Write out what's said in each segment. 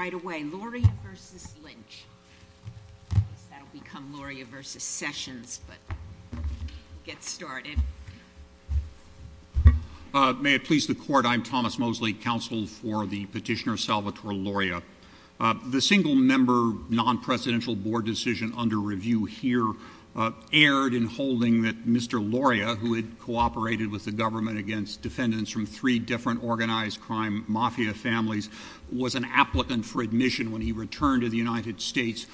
May it please the court, I'm Thomas Mosley, counsel for the petitioner Salvatore Loria. The single-member, non-presidential board decision under review here erred in holding that Mr. Loria, who had cooperated with the government against defendants from three different organized crime mafia families, was an applicant for admission when he returned to the United States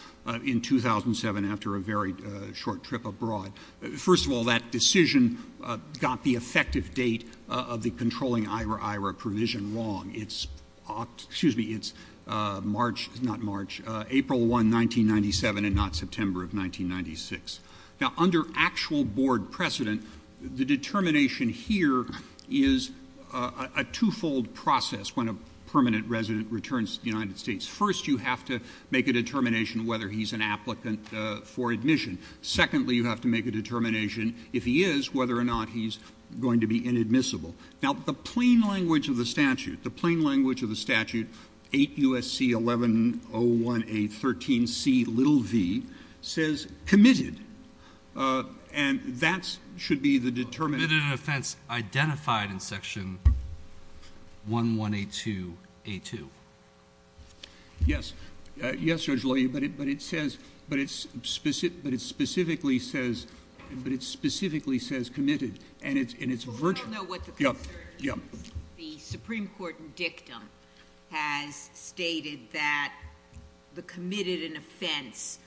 in 2007 after a very short trip abroad. First of all, that decision got the effective date of the controlling IRA-IRA provision wrong. It's March, not March, April 1, 1997 and not September of 1996. Now, under actual board precedent, the determination here is a twofold process when a permanent resident returns to the United States. First, you have to make a determination whether he's an applicant for admission. Secondly, you have to make a determination, if he is, whether or not he's going to be inadmissible. Now, the plain language of the statute, the plain language of the statute, 8 U.S.C. 1101A 1113C little v, says committed. And that should be the determination. Committed an offense identified in section 1182A2. Yes. Yes, Judge Loria, but it says, but it specifically says, but it specifically says committed. And it's virtual. Well, we all know what the concern is. Yeah. Yeah. The Supreme Court in dictum has stated that the committed an offense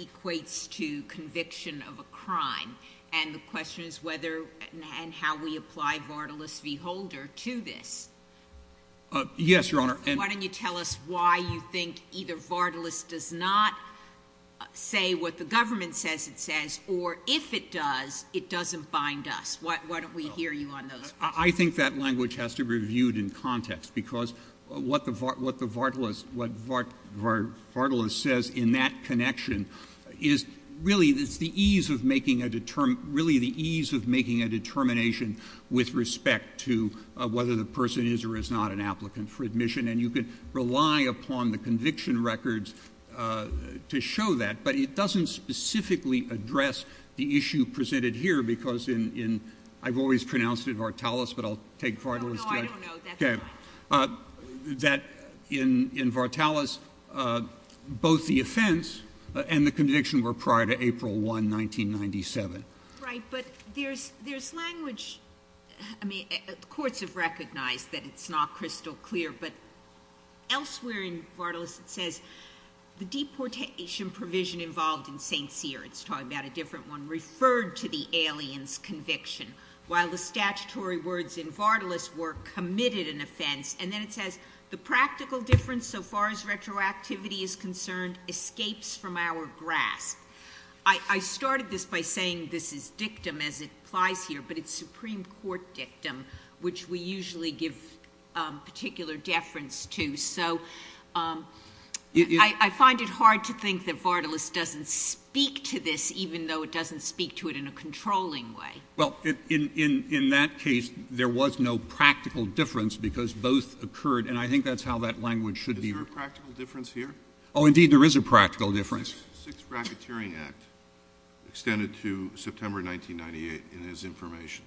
equates to conviction of a crime. And the question is whether and how we apply Vardalus v. Holder to this. Yes, Your Honor. And why don't you tell us why you think either Vardalus does not say what the government says it says, or if it does, it doesn't bind us. Why don't we hear you on those? I think that language has to be reviewed in context, because what the Vardalus says in that connection is really it's the ease of making a determination with respect to whether the person is or is not an applicant for admission. And you can rely upon the conviction records to show that. But it doesn't specifically address the issue presented here, because in — I've always pronounced it Vartalus, but I'll take Vardalus, too. No, no, I don't know. That's fine. Okay. That in Vartalus, both the offense and the conviction were prior to April 1, 1997. Right. But there's language — I mean, the courts have recognized that it's not crystal clear. But elsewhere in Vardalus, it says the deportation provision involved in St. Cyr — it's talking about a different one — referred to the alien's conviction, while the statutory words in Vartalus were committed an offense. And then it says the practical difference, so far as retroactivity is concerned, escapes from our grasp. I started this by saying this is dictum, as it applies here, but it's Supreme Court dictum, which we usually give particular deference to. So I find it hard to think that Vartalus doesn't speak to this, even though it doesn't speak to it in a controlling way. Well, in that case, there was no practical difference, because both occurred — and I think that's how that language should be — Is there a practical difference here? Oh, indeed, there is a practical difference. The Sixth Racketeering Act extended to September 1998 in his information.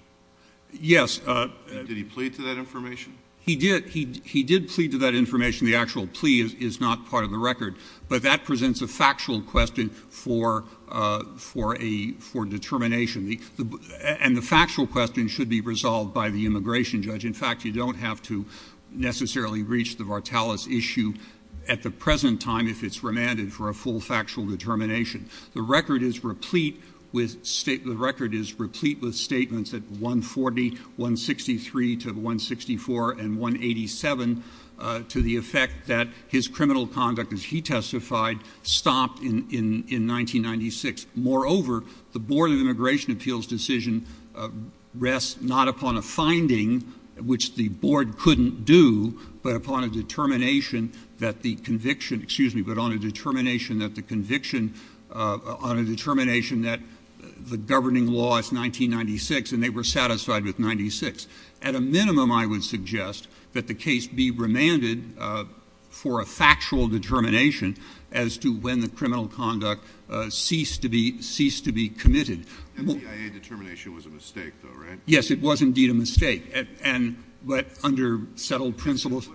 Yes. Did he plead to that information? He did. He did plead to that information. The actual plea is not part of the record. But that presents a factual question for a — for determination. And the factual question should be resolved by the immigration judge. In fact, you don't have to necessarily reach the Vartalus issue at the present time if it's remanded for a full factual determination. The record is replete with — the record is replete with statements at 140, 163 to 164 and 187 to the effect that his criminal conduct, as he testified, stopped in 1996. Moreover, the Board of Immigration Appeals decision rests not upon a finding, which the Board couldn't do, but upon a determination that the conviction — excuse me — but upon a determination that the conviction — on a determination that the governing law is 1996, and they were satisfied with 96. At a minimum, I would suggest that the case be remanded for a factual determination as to when the criminal conduct ceased to be — ceased to be committed. MTIA determination was a mistake, though, right? Yes, it was indeed a mistake. It's not relevant.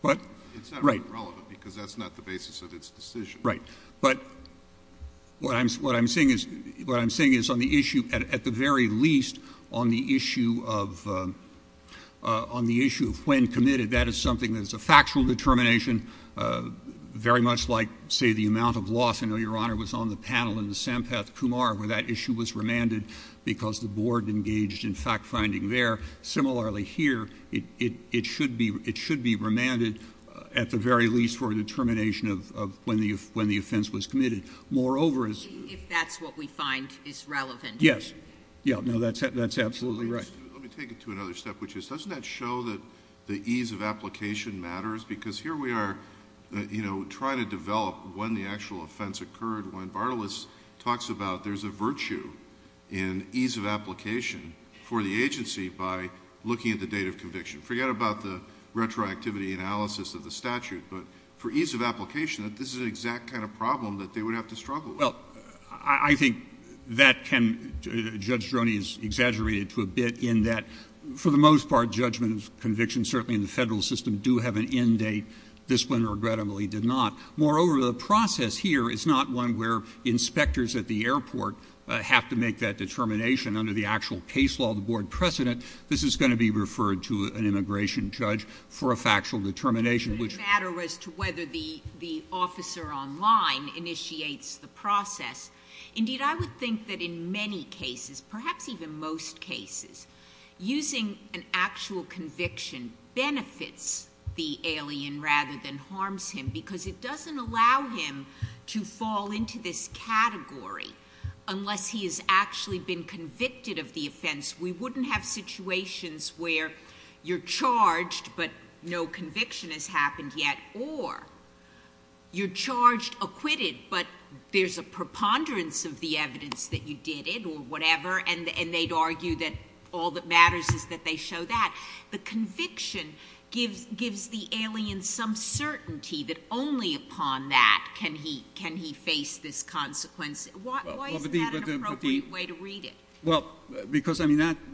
What? Right. It's not relevant to this decision. Right. But what I'm — what I'm saying is — what I'm saying is on the issue — at the very least, on the issue of — on the issue of when committed, that is something that is a factual determination, very much like, say, the amount of loss. I know Your Honor was on the panel in the Sampath-Kumar where that issue was remanded because the Board engaged in fact-finding there. Similarly, here, it should be — it should be remanded at the very least for a determination of when the — when the offense was committed. Moreover, as — If that's what we find is relevant. Yes. Yeah. No, that's — that's absolutely right. Let me take it to another step, which is, doesn't that show that the ease of application matters? Because here we are, you know, trying to develop when the actual offense occurred. talks about there's a virtue in ease of application for the agency by looking at the date of conviction. Forget about the retroactivity analysis of the statute. But for ease of application, this is the exact kind of problem that they would have to struggle with. Well, I think that can — Judge Droney has exaggerated to a bit in that, for the most part, judgment of conviction, certainly in the federal system, do have an end date. This one, regrettably, did not. Moreover, the process here is not one where inspectors at the airport have to make that determination under the actual case law, the board precedent. This is going to be referred to an immigration judge for a factual determination, which — It doesn't matter as to whether the — the officer online initiates the process. Indeed, I would think that in many cases, perhaps even most cases, using an actual conviction benefits the alien rather than harms him, because it doesn't allow him to fall into this category unless he has actually been convicted of the offense. We wouldn't have situations where you're charged but no conviction has happened yet, or you're charged, acquitted, but there's a preponderance of the evidence that you did it or whatever, and they'd argue that all that matters is that they show that. The conviction gives the alien some certainty that only upon that can he face this consequence. Why isn't that an appropriate way to read it? Well, because, I mean, that —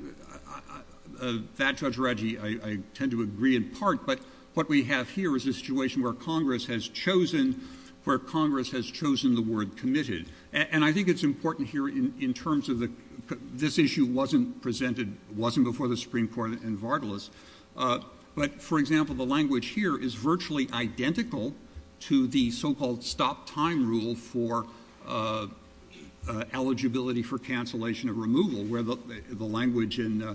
that, Judge Radji, I tend to agree in part, but what we have here is a situation where Congress has chosen — where Congress has chosen the word committed. And I think it's important here in terms of the — this issue wasn't presented — wasn't presented before the Supreme Court in Vardalos. But, for example, the language here is virtually identical to the so-called stop-time rule for eligibility for cancellation of removal, where the language in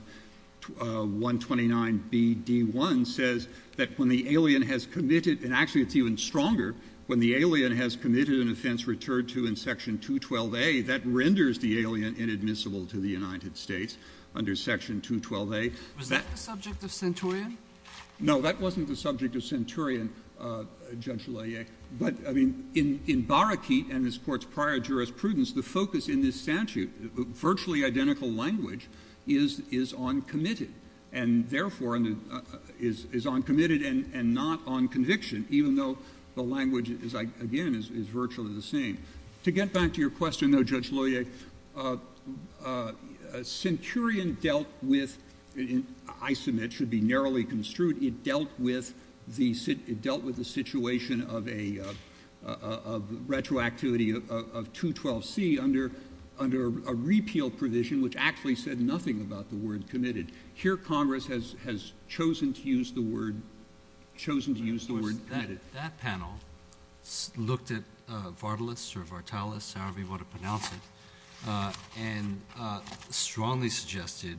129BD1 says that when the alien has committed — and actually it's even stronger — when the alien has committed an offense returned to in Section 212A, that renders the alien inadmissible to the United States under Section 212A. Was that the subject of Centurion? No. That wasn't the subject of Centurion, Judge Loyer. But, I mean, in — in Barakete and his Court's prior jurisprudence, the focus in this statute, virtually identical language, is — is on committed, and therefore is on committed and not on conviction, even though the language is, again, is virtually the same. To get back to your question, though, Judge Loyer, Centurion dealt with — and I submit it should be narrowly construed — it dealt with the — it dealt with the situation of a — of retroactivity of 212C under — under a repeal provision which actually said nothing about the word committed. Here, Congress has — has chosen to use the word — chosen to use the word committed. That panel looked at Vartalus or Vartalus, however you want to pronounce it, and strongly suggested,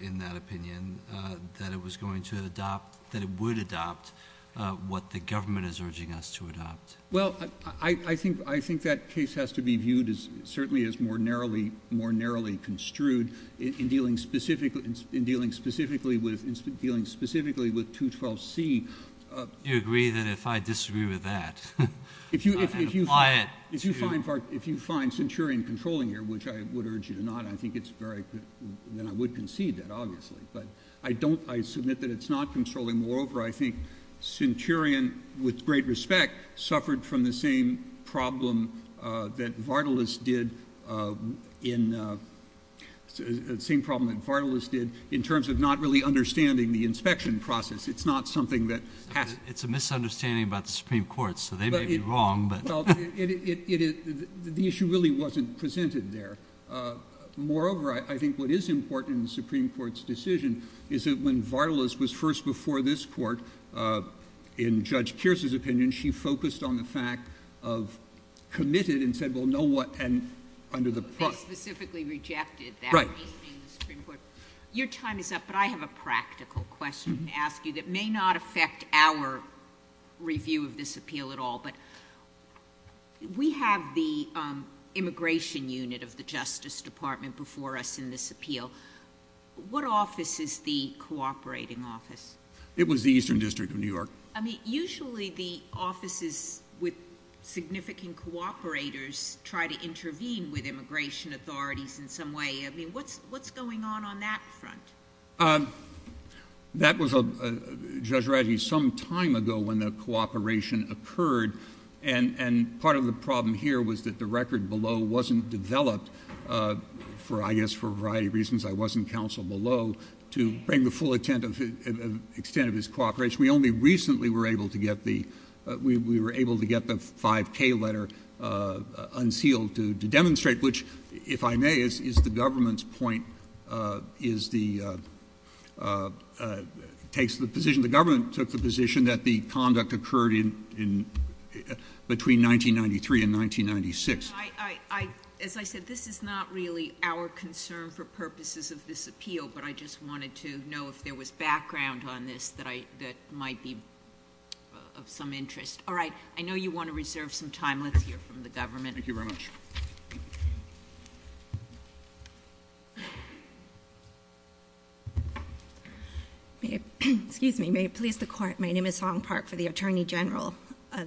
in that opinion, that it was going to adopt — that it would adopt what the government is urging us to adopt. Well, I — I think — I think that case has to be viewed as — certainly as more narrowly — more narrowly construed in dealing specifically — in dealing specifically with — in dealing specifically with 212C. Do you agree that if I disagree with that, I can apply it? If you find — if you find Centurion controlling here, which I would urge you to not, I think it's very — then I would concede that, obviously. But I don't — I submit that it's not controlling. Moreover, I think Centurion, with great respect, suffered from the same problem that Vartalus did in — same problem that Vartalus did in terms of not really understanding the inspection process. It's not something that — It's a misunderstanding about the Supreme Court, so they may be wrong, but — Well, it — it — the issue really wasn't presented there. Moreover, I think what is important in the Supreme Court's decision is that when Vartalus was first before this Court, in Judge Kearse's opinion, she focused on the fact of committed and said, well, no one — and under the — They specifically rejected that reasoning in the Supreme Court. Right. Your time is up, but I have a practical question to ask you that may not affect our review of this appeal at all. But we have the Immigration Unit of the Justice Department before us in this appeal. What office is the cooperating office? It was the Eastern District of New York. I mean, usually the offices with significant cooperators try to intervene with immigration authorities in some way. I mean, what's — what's going on on that front? That was a — Judge Radley, some time ago when the cooperation occurred, and — and part of the problem here was that the record below wasn't developed for, I guess, for a variety of reasons. I was in counsel below to bring the full extent of his cooperation. We only recently were able to get the — we were able to get the 5K letter unsealed to demonstrate which, if I may, is the government's point — is the — takes the position — the government took the position that the conduct occurred in — between 1993 and 1996. As I said, this is not really our concern for purposes of this appeal, but I just wanted to know if there was background on this that I — that might be of some interest. All right. I know you want to reserve some time. Let's hear from the government. Thank you very much. Excuse me. May it please the Court, my name is Song Park for the Attorney General.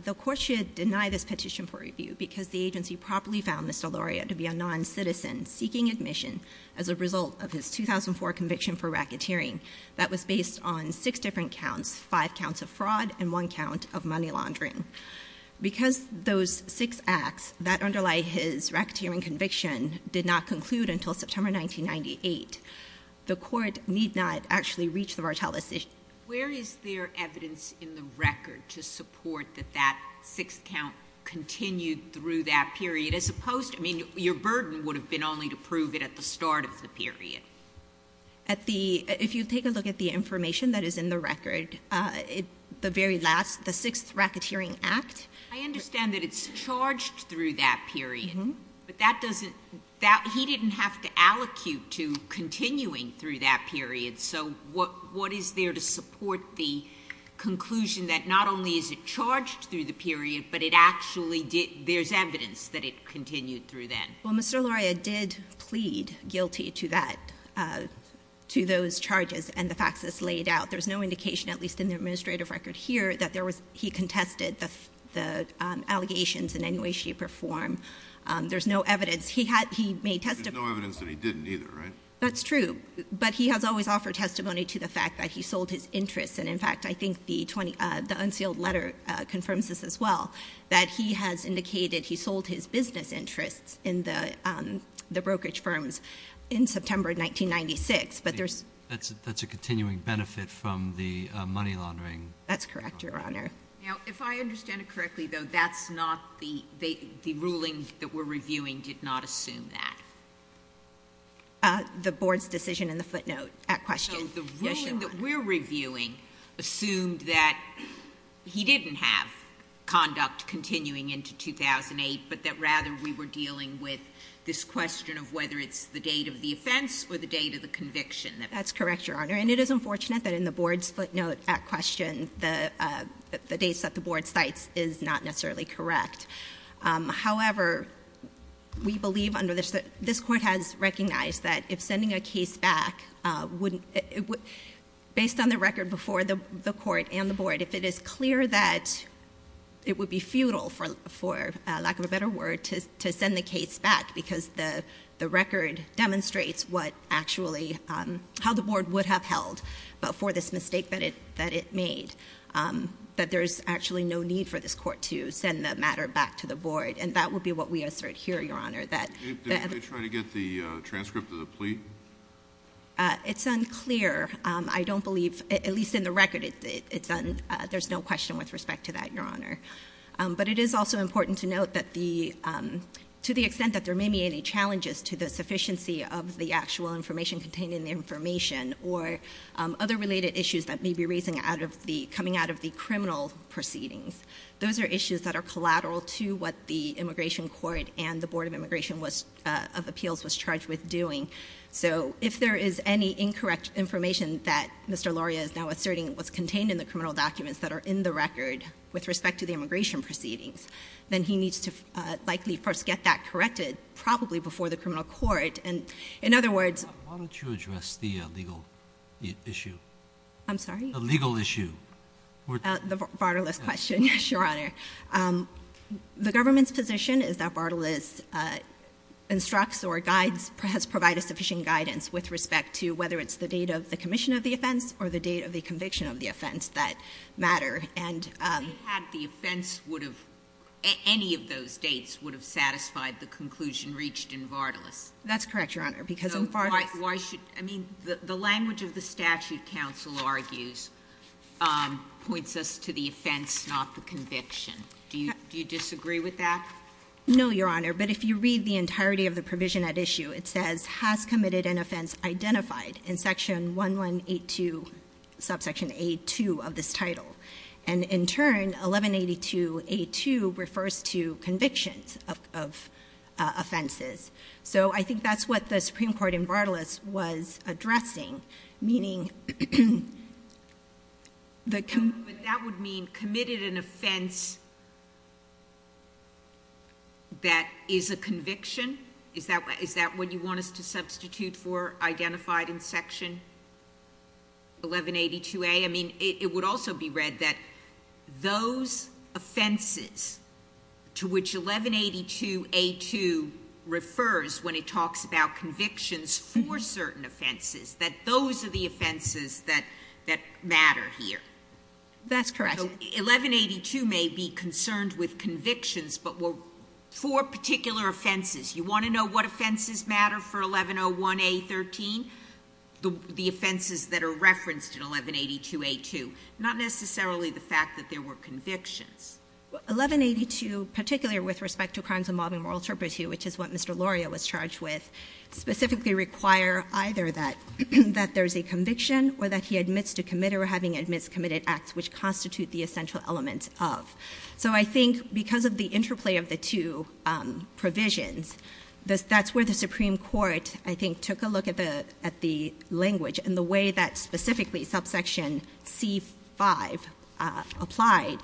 The Court should deny this petition for review because the agency properly found Mr. Loria to be a noncitizen seeking admission as a result of his 2004 conviction for racketeering that was based on six different counts, five counts of fraud and one count of money laundering. Because those six acts that underlie his racketeering conviction did not conclude until September 1998, the Court need not actually reach the Martel decision. Where is there evidence in the record to support that that sixth count continued through that period, as opposed to — I mean, your burden would have been only to prove it at the start of the period. At the — if you take a look at the information that is in the record, it — the very last — the sixth racketeering act — I understand that it's charged through that period. Mm-hmm. But that doesn't — that — he didn't have to allocute to continuing through that period. So what is there to support the conclusion that not only is it charged through the period, but it actually did — there's evidence that it continued through then? Well, Mr. Loria did plead guilty to that — to those charges and the facts that's laid out. In fact, there's no indication, at least in the administrative record here, that there was — he contested the allegations in any way, shape, or form. There's no evidence. He had — he made testimony — There's no evidence that he didn't either, right? That's true. But he has always offered testimony to the fact that he sold his interests. And in fact, I think the 20 — the unsealed letter confirms this as well, that he has indicated he sold his business interests in the brokerage firms in September 1996. But there's — That's a continuing benefit from the money laundering. That's correct, Your Honor. Now, if I understand it correctly, though, that's not the — the ruling that we're reviewing did not assume that? The board's decision in the footnote at question. Yes, Your Honor. So the ruling that we're reviewing assumed that he didn't have conduct continuing into 2008, but that rather we were dealing with this question of whether it's the date of the offense or the date of the conviction. That's correct, Your Honor. And it is unfortunate that in the board's footnote at question, the dates that the board cites is not necessarily correct. However, we believe under the — this court has recognized that if sending a case back wouldn't — based on the record before the court and the board, if it is clear that it would be futile, for lack of a better word, to send the case back because the record demonstrates what actually — how the board would have held for this mistake that it made, that there's actually no need for this court to send the matter back to the board. And that would be what we assert here, Your Honor, that — Did anybody try to get the transcript of the plea? It's unclear. I don't believe — at least in the record, it's — there's no question with respect to that, Your Honor. But it is also important to note that the — to the extent that there may be any challenges to the sufficiency of the actual information contained in the information or other related issues that may be raising out of the — coming out of the criminal proceedings, those are issues that are collateral to what the Immigration Court and the Board of Immigration was — of Appeals was charged with doing. So if there is any incorrect information that Mr. Loria is now asserting was contained in the criminal documents that are in the record with respect to the immigration proceedings, then he needs to likely first get that corrected, probably before the criminal court. And in other words — Why don't you address the legal issue? I'm sorry? The legal issue. The Bartolis question, Your Honor. The government's position is that Bartolis instructs or guides — has provided sufficient guidance with respect to whether it's the date of the commission of the offense or the date of the conviction of the offense that matter. And — If they had, the offense would have — any of those dates would have satisfied the conclusion reached in Bartolis. That's correct, Your Honor. Because in Bartolis — So why should — I mean, the language of the statute counsel argues points us to the offense, not the conviction. Do you disagree with that? No, Your Honor. But if you read the entirety of the provision at issue, it says, Bartolis has committed an offense identified in section 1182, subsection A2 of this title. And in turn, 1182A2 refers to convictions of offenses. So I think that's what the Supreme Court in Bartolis was addressing, meaning the — But that would mean committed an offense that is a conviction? Is that what you want us to substitute for, identified in section 1182A? I mean, it would also be read that those offenses to which 1182A2 refers when it talks about convictions for certain offenses, that those are the offenses that matter here. That's correct. So 1182 may be concerned with convictions, but for particular offenses. You want to know what offenses matter for 1101A13? The offenses that are referenced in 1182A2. Not necessarily the fact that there were convictions. 1182, particularly with respect to crimes involving moral turpitude, which is what Mr. Loria was charged with, specifically require either that there's a conviction or that he admits to commit or having admits committed acts which constitute the essential elements of. So I think because of the interplay of the two provisions, that's where the Supreme Court, I think, took a look at the language and the way that specifically subsection C5 applied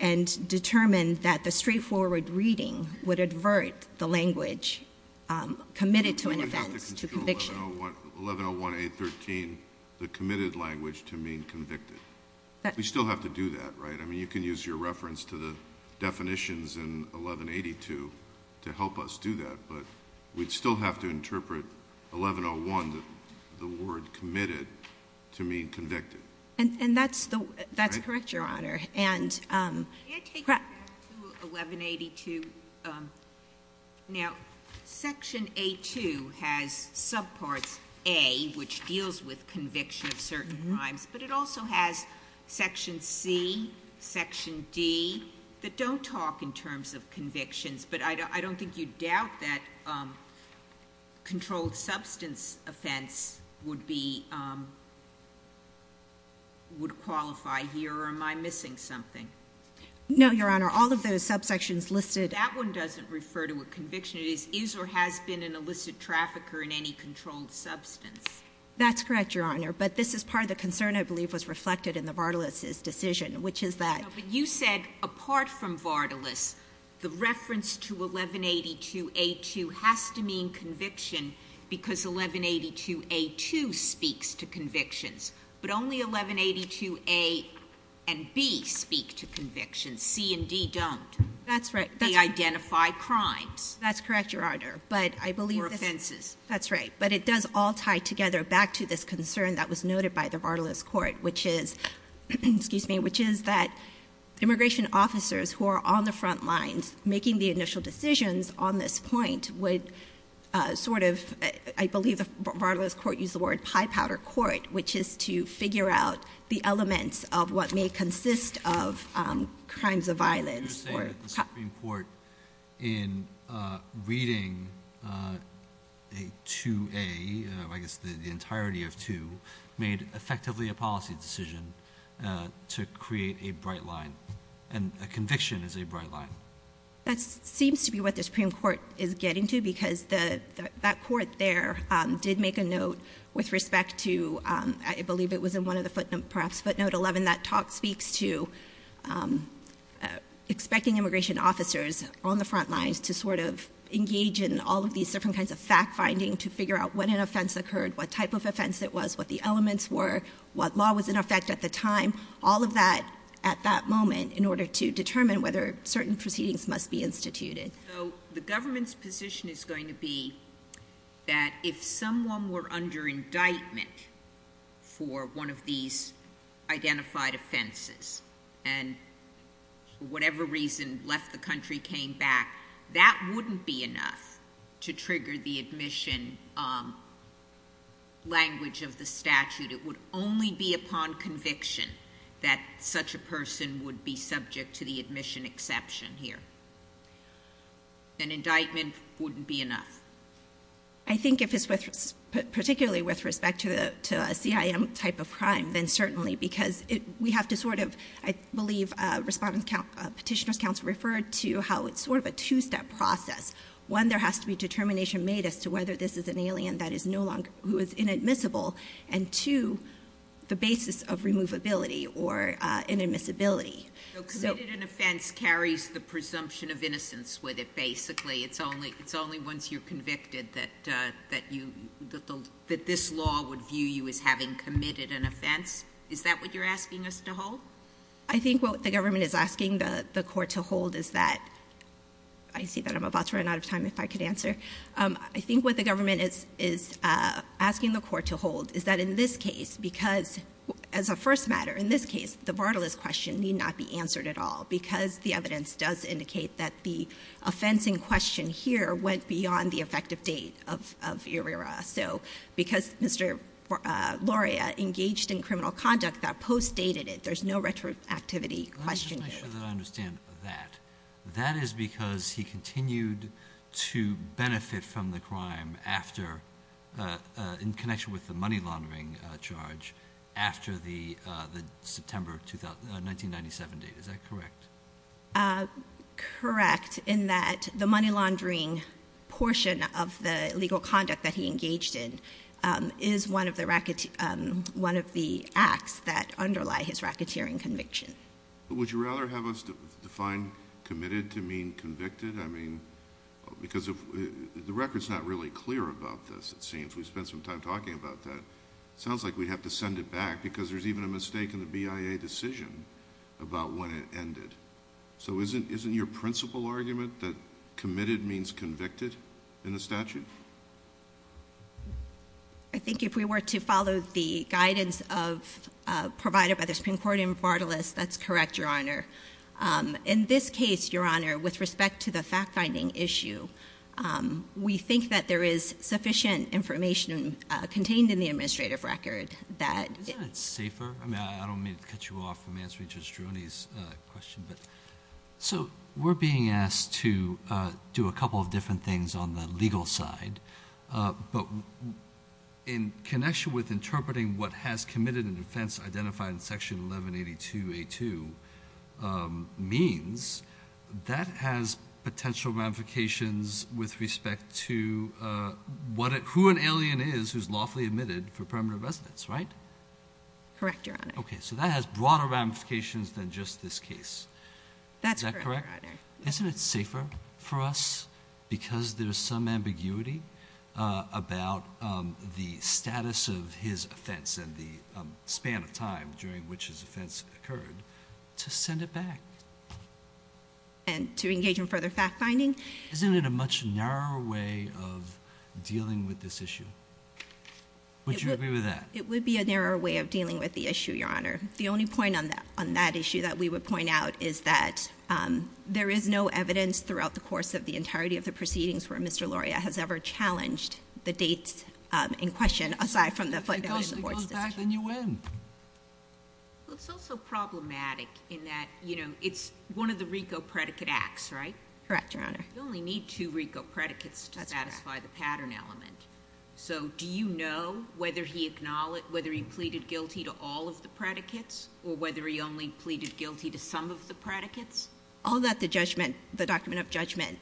and determined that the straightforward reading would advert the language committed to an offense to conviction. 1101A13, the committed language to mean convicted. We still have to do that, right? I mean, you can use your reference to the definitions in 1182 to help us do that, but we'd still have to interpret 1101, the word committed, to mean convicted. And that's correct, Your Honor. Can I take you back to 1182? Now, Section A2 has subparts A, which deals with conviction of certain crimes, but it also has Section C, Section D, that don't talk in terms of convictions, but I don't think you'd doubt that controlled substance offense would qualify here. Is that correct, Your Honor, or am I missing something? No, Your Honor. All of those subsections listed. That one doesn't refer to a conviction. It is, is or has been an illicit trafficker in any controlled substance. That's correct, Your Honor. But this is part of the concern I believe was reflected in the Vardalus' decision, which is that. But you said apart from Vardalus, the reference to 1182A2 has to mean conviction because 1182A2 speaks to convictions. But only 1182A and B speak to convictions. C and D don't. That's right. They identify crimes. That's correct, Your Honor. Or offenses. That's right. But it does all tie together back to this concern that was noted by the Vardalus Court, which is that immigration officers who are on the front lines making the initial decisions on this point would sort of, I believe the Vardalus Court used the word pie powder court, which is to figure out the elements of what may consist of crimes of violence. You're saying that the Supreme Court in reading 2A, I guess the entirety of 2, made effectively a policy decision to create a bright line. And a conviction is a bright line. That seems to be what the Supreme Court is getting to because that court there did make a note with respect to, I believe it was in one of the footnote, perhaps footnote 11, that talk speaks to expecting immigration officers on the front lines to sort of engage in all of these different kinds of fact-finding to figure out when an offense occurred, what type of offense it was, what the elements were, what law was in effect at the time, all of that at that moment in order to determine whether certain proceedings must be instituted. So the government's position is going to be that if someone were under indictment for one of these identified offenses and for whatever reason left the country, came back, that wouldn't be enough to trigger the admission language of the statute. It would only be upon conviction that such a person would be subject to the admission exception here. An indictment wouldn't be enough. I think if it's particularly with respect to a CIM type of crime, then certainly, because we have to sort of, I believe, Respondent Petitioner's Counsel referred to how it's sort of a two-step process. One, there has to be determination made as to whether this is an alien that is no longer, who is inadmissible. And two, the basis of removability or inadmissibility. So committed an offense carries the presumption of innocence with it, basically. It's only once you're convicted that this law would view you as having committed an offense. Is that what you're asking us to hold? I think what the government is asking the Court to hold is that – I see that I'm about to run out of time, if I could answer. I think what the government is asking the Court to hold is that in this case, because as a first matter, in this case, the vartalist question need not be answered at all. Because the evidence does indicate that the offense in question here went beyond the effective date of ERIRA. So because Mr. Loria engaged in criminal conduct that post-dated it, there's no retroactivity question here. Let me make sure that I understand that. That is because he continued to benefit from the crime after – in connection with the money laundering charge after the September 1997 date. Is that correct? Correct, in that the money laundering portion of the legal conduct that he engaged in is one of the acts that underlie his racketeering conviction. Would you rather have us define committed to mean convicted? I mean, because the record's not really clear about this, it seems. We spent some time talking about that. It sounds like we'd have to send it back because there's even a mistake in the BIA decision about when it ended. So isn't your principal argument that committed means convicted in the statute? I think if we were to follow the guidance provided by the Supreme Court in vartalist, that's correct, Your Honor. In this case, Your Honor, with respect to the fact-finding issue, we think that there is sufficient information contained in the administrative record that – Isn't that safer? I mean, I don't mean to cut you off from answering Judge Droney's question, but – So we're being asked to do a couple of different things on the legal side, but in connection with interpreting what has committed an offense identified in Section 1182A2 means, that has potential ramifications with respect to who an alien is who's lawfully admitted for permanent residence, right? Correct, Your Honor. Okay, so that has broader ramifications than just this case. That's correct, Your Honor. Isn't it safer for us because there's some ambiguity about the status of his offense and the span of time during which his offense occurred to send it back? And to engage in further fact-finding? Isn't it a much narrower way of dealing with this issue? Would you agree with that? It would be a narrower way of dealing with the issue, Your Honor. The only point on that issue that we would point out is that there is no evidence throughout the course of the entirety of the proceedings where Mr. Loria has ever challenged the dates in question, aside from the financial supports decision. If it goes back, then you win. Well, it's also problematic in that it's one of the RICO predicate acts, right? Correct, Your Honor. You only need two RICO predicates to satisfy the pattern element. So do you know whether he pleaded guilty to all of the predicates or whether he only pleaded guilty to some of the predicates? All that, the document of judgment.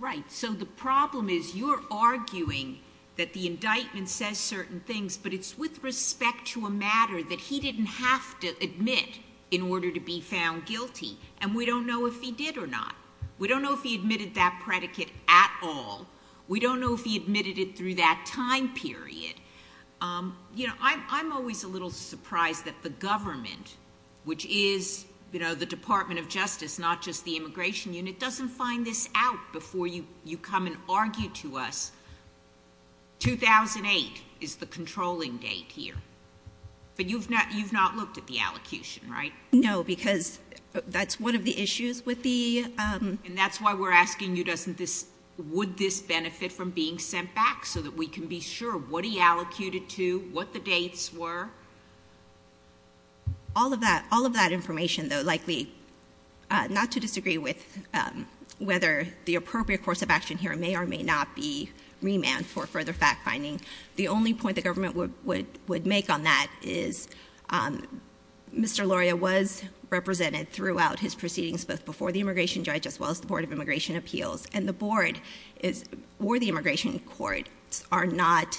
Right. So the problem is you're arguing that the indictment says certain things, but it's with respect to a matter that he didn't have to admit in order to be found guilty, and we don't know if he did or not. We don't know if he admitted that predicate at all. We don't know if he admitted it through that time period. I'm always a little surprised that the government, which is the Department of Justice, not just the Immigration Unit, doesn't find this out before you come and argue to us. 2008 is the controlling date here. But you've not looked at the allocution, right? No, because that's one of the issues with the ---- And that's why we're asking you, would this benefit from being sent back so that we can be sure what he allocated to, what the dates were? All of that information, though, likely not to disagree with whether the appropriate course of action here may or may not be remanded for further fact-finding. The only point the government would make on that is Mr. Loria was represented throughout his proceedings, both before the immigration judge as well as the Board of Immigration Appeals. And the board or the immigration court are not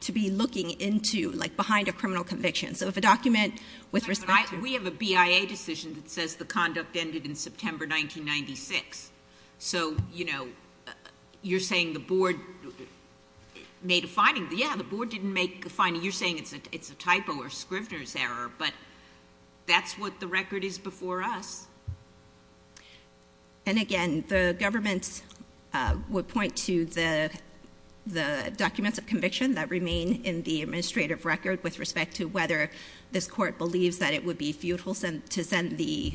to be looking into, like behind a criminal conviction. So if a document with respect to ---- We have a BIA decision that says the conduct ended in September 1996. So, you know, you're saying the board made a finding. Yeah, the board didn't make a finding. You're saying it's a typo or Scrivner's error. But that's what the record is before us. And, again, the government would point to the documents of conviction that remain in the administrative record with respect to whether this court believes that it would be futile to send the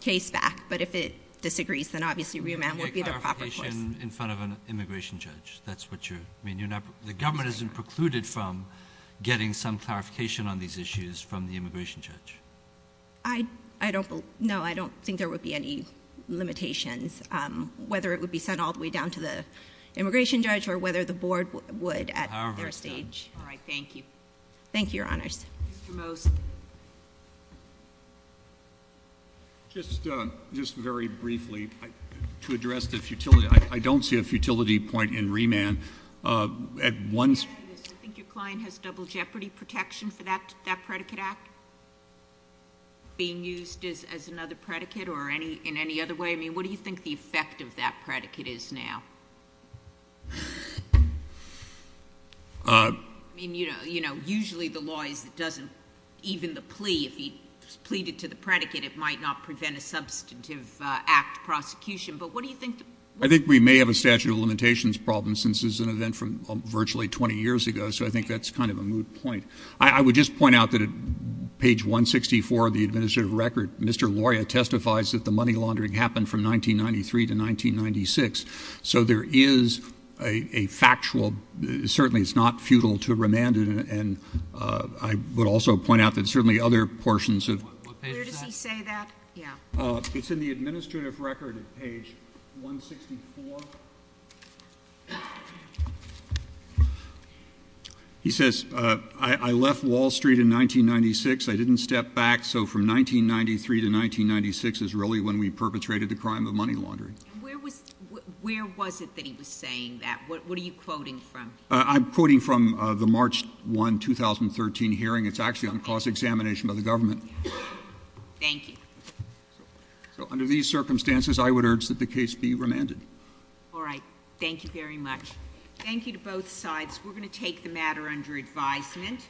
case back. But if it disagrees, then obviously remand would be the proper course. You get clarification in front of an immigration judge. That's what you're ---- I mean, you're not ---- The government isn't precluded from getting some clarification on these issues from the immigration judge. I don't ---- No, I don't think there would be any limitations, whether it would be sent all the way down to the immigration judge or whether the board would at their stage. All right. Thank you. Thank you, Your Honors. Mr. Mose. Just very briefly, to address the futility, I don't see a futility point in remand. At one ---- I think your client has double jeopardy protection for that predicate act being used as another predicate or in any other way. I mean, what do you think the effect of that predicate is now? I mean, you know, usually the law is it doesn't ---- even the plea, if he pleaded to the predicate, it might not prevent a substantive act prosecution. But what do you think the ---- I think we may have a statute of limitations problem since this is an event from virtually 20 years ago. So I think that's kind of a moot point. I would just point out that at page 164 of the administrative record, Mr. Loria testifies that the money laundering happened from 1993 to 1996. So there is a factual ---- certainly it's not futile to remand it. And I would also point out that certainly other portions of ---- What page is that? Where does he say that? Yeah. It's in the administrative record at page 164. He says, I left Wall Street in 1996. I didn't step back. So from 1993 to 1996 is really when we perpetrated the crime of money laundering. Where was it that he was saying that? What are you quoting from? I'm quoting from the March 1, 2013 hearing. It's actually on cross-examination by the government. Thank you. So under these circumstances, I would urge that the case be remanded. All right. Thank you very much. Thank you to both sides. We're going to take the matter under advisement.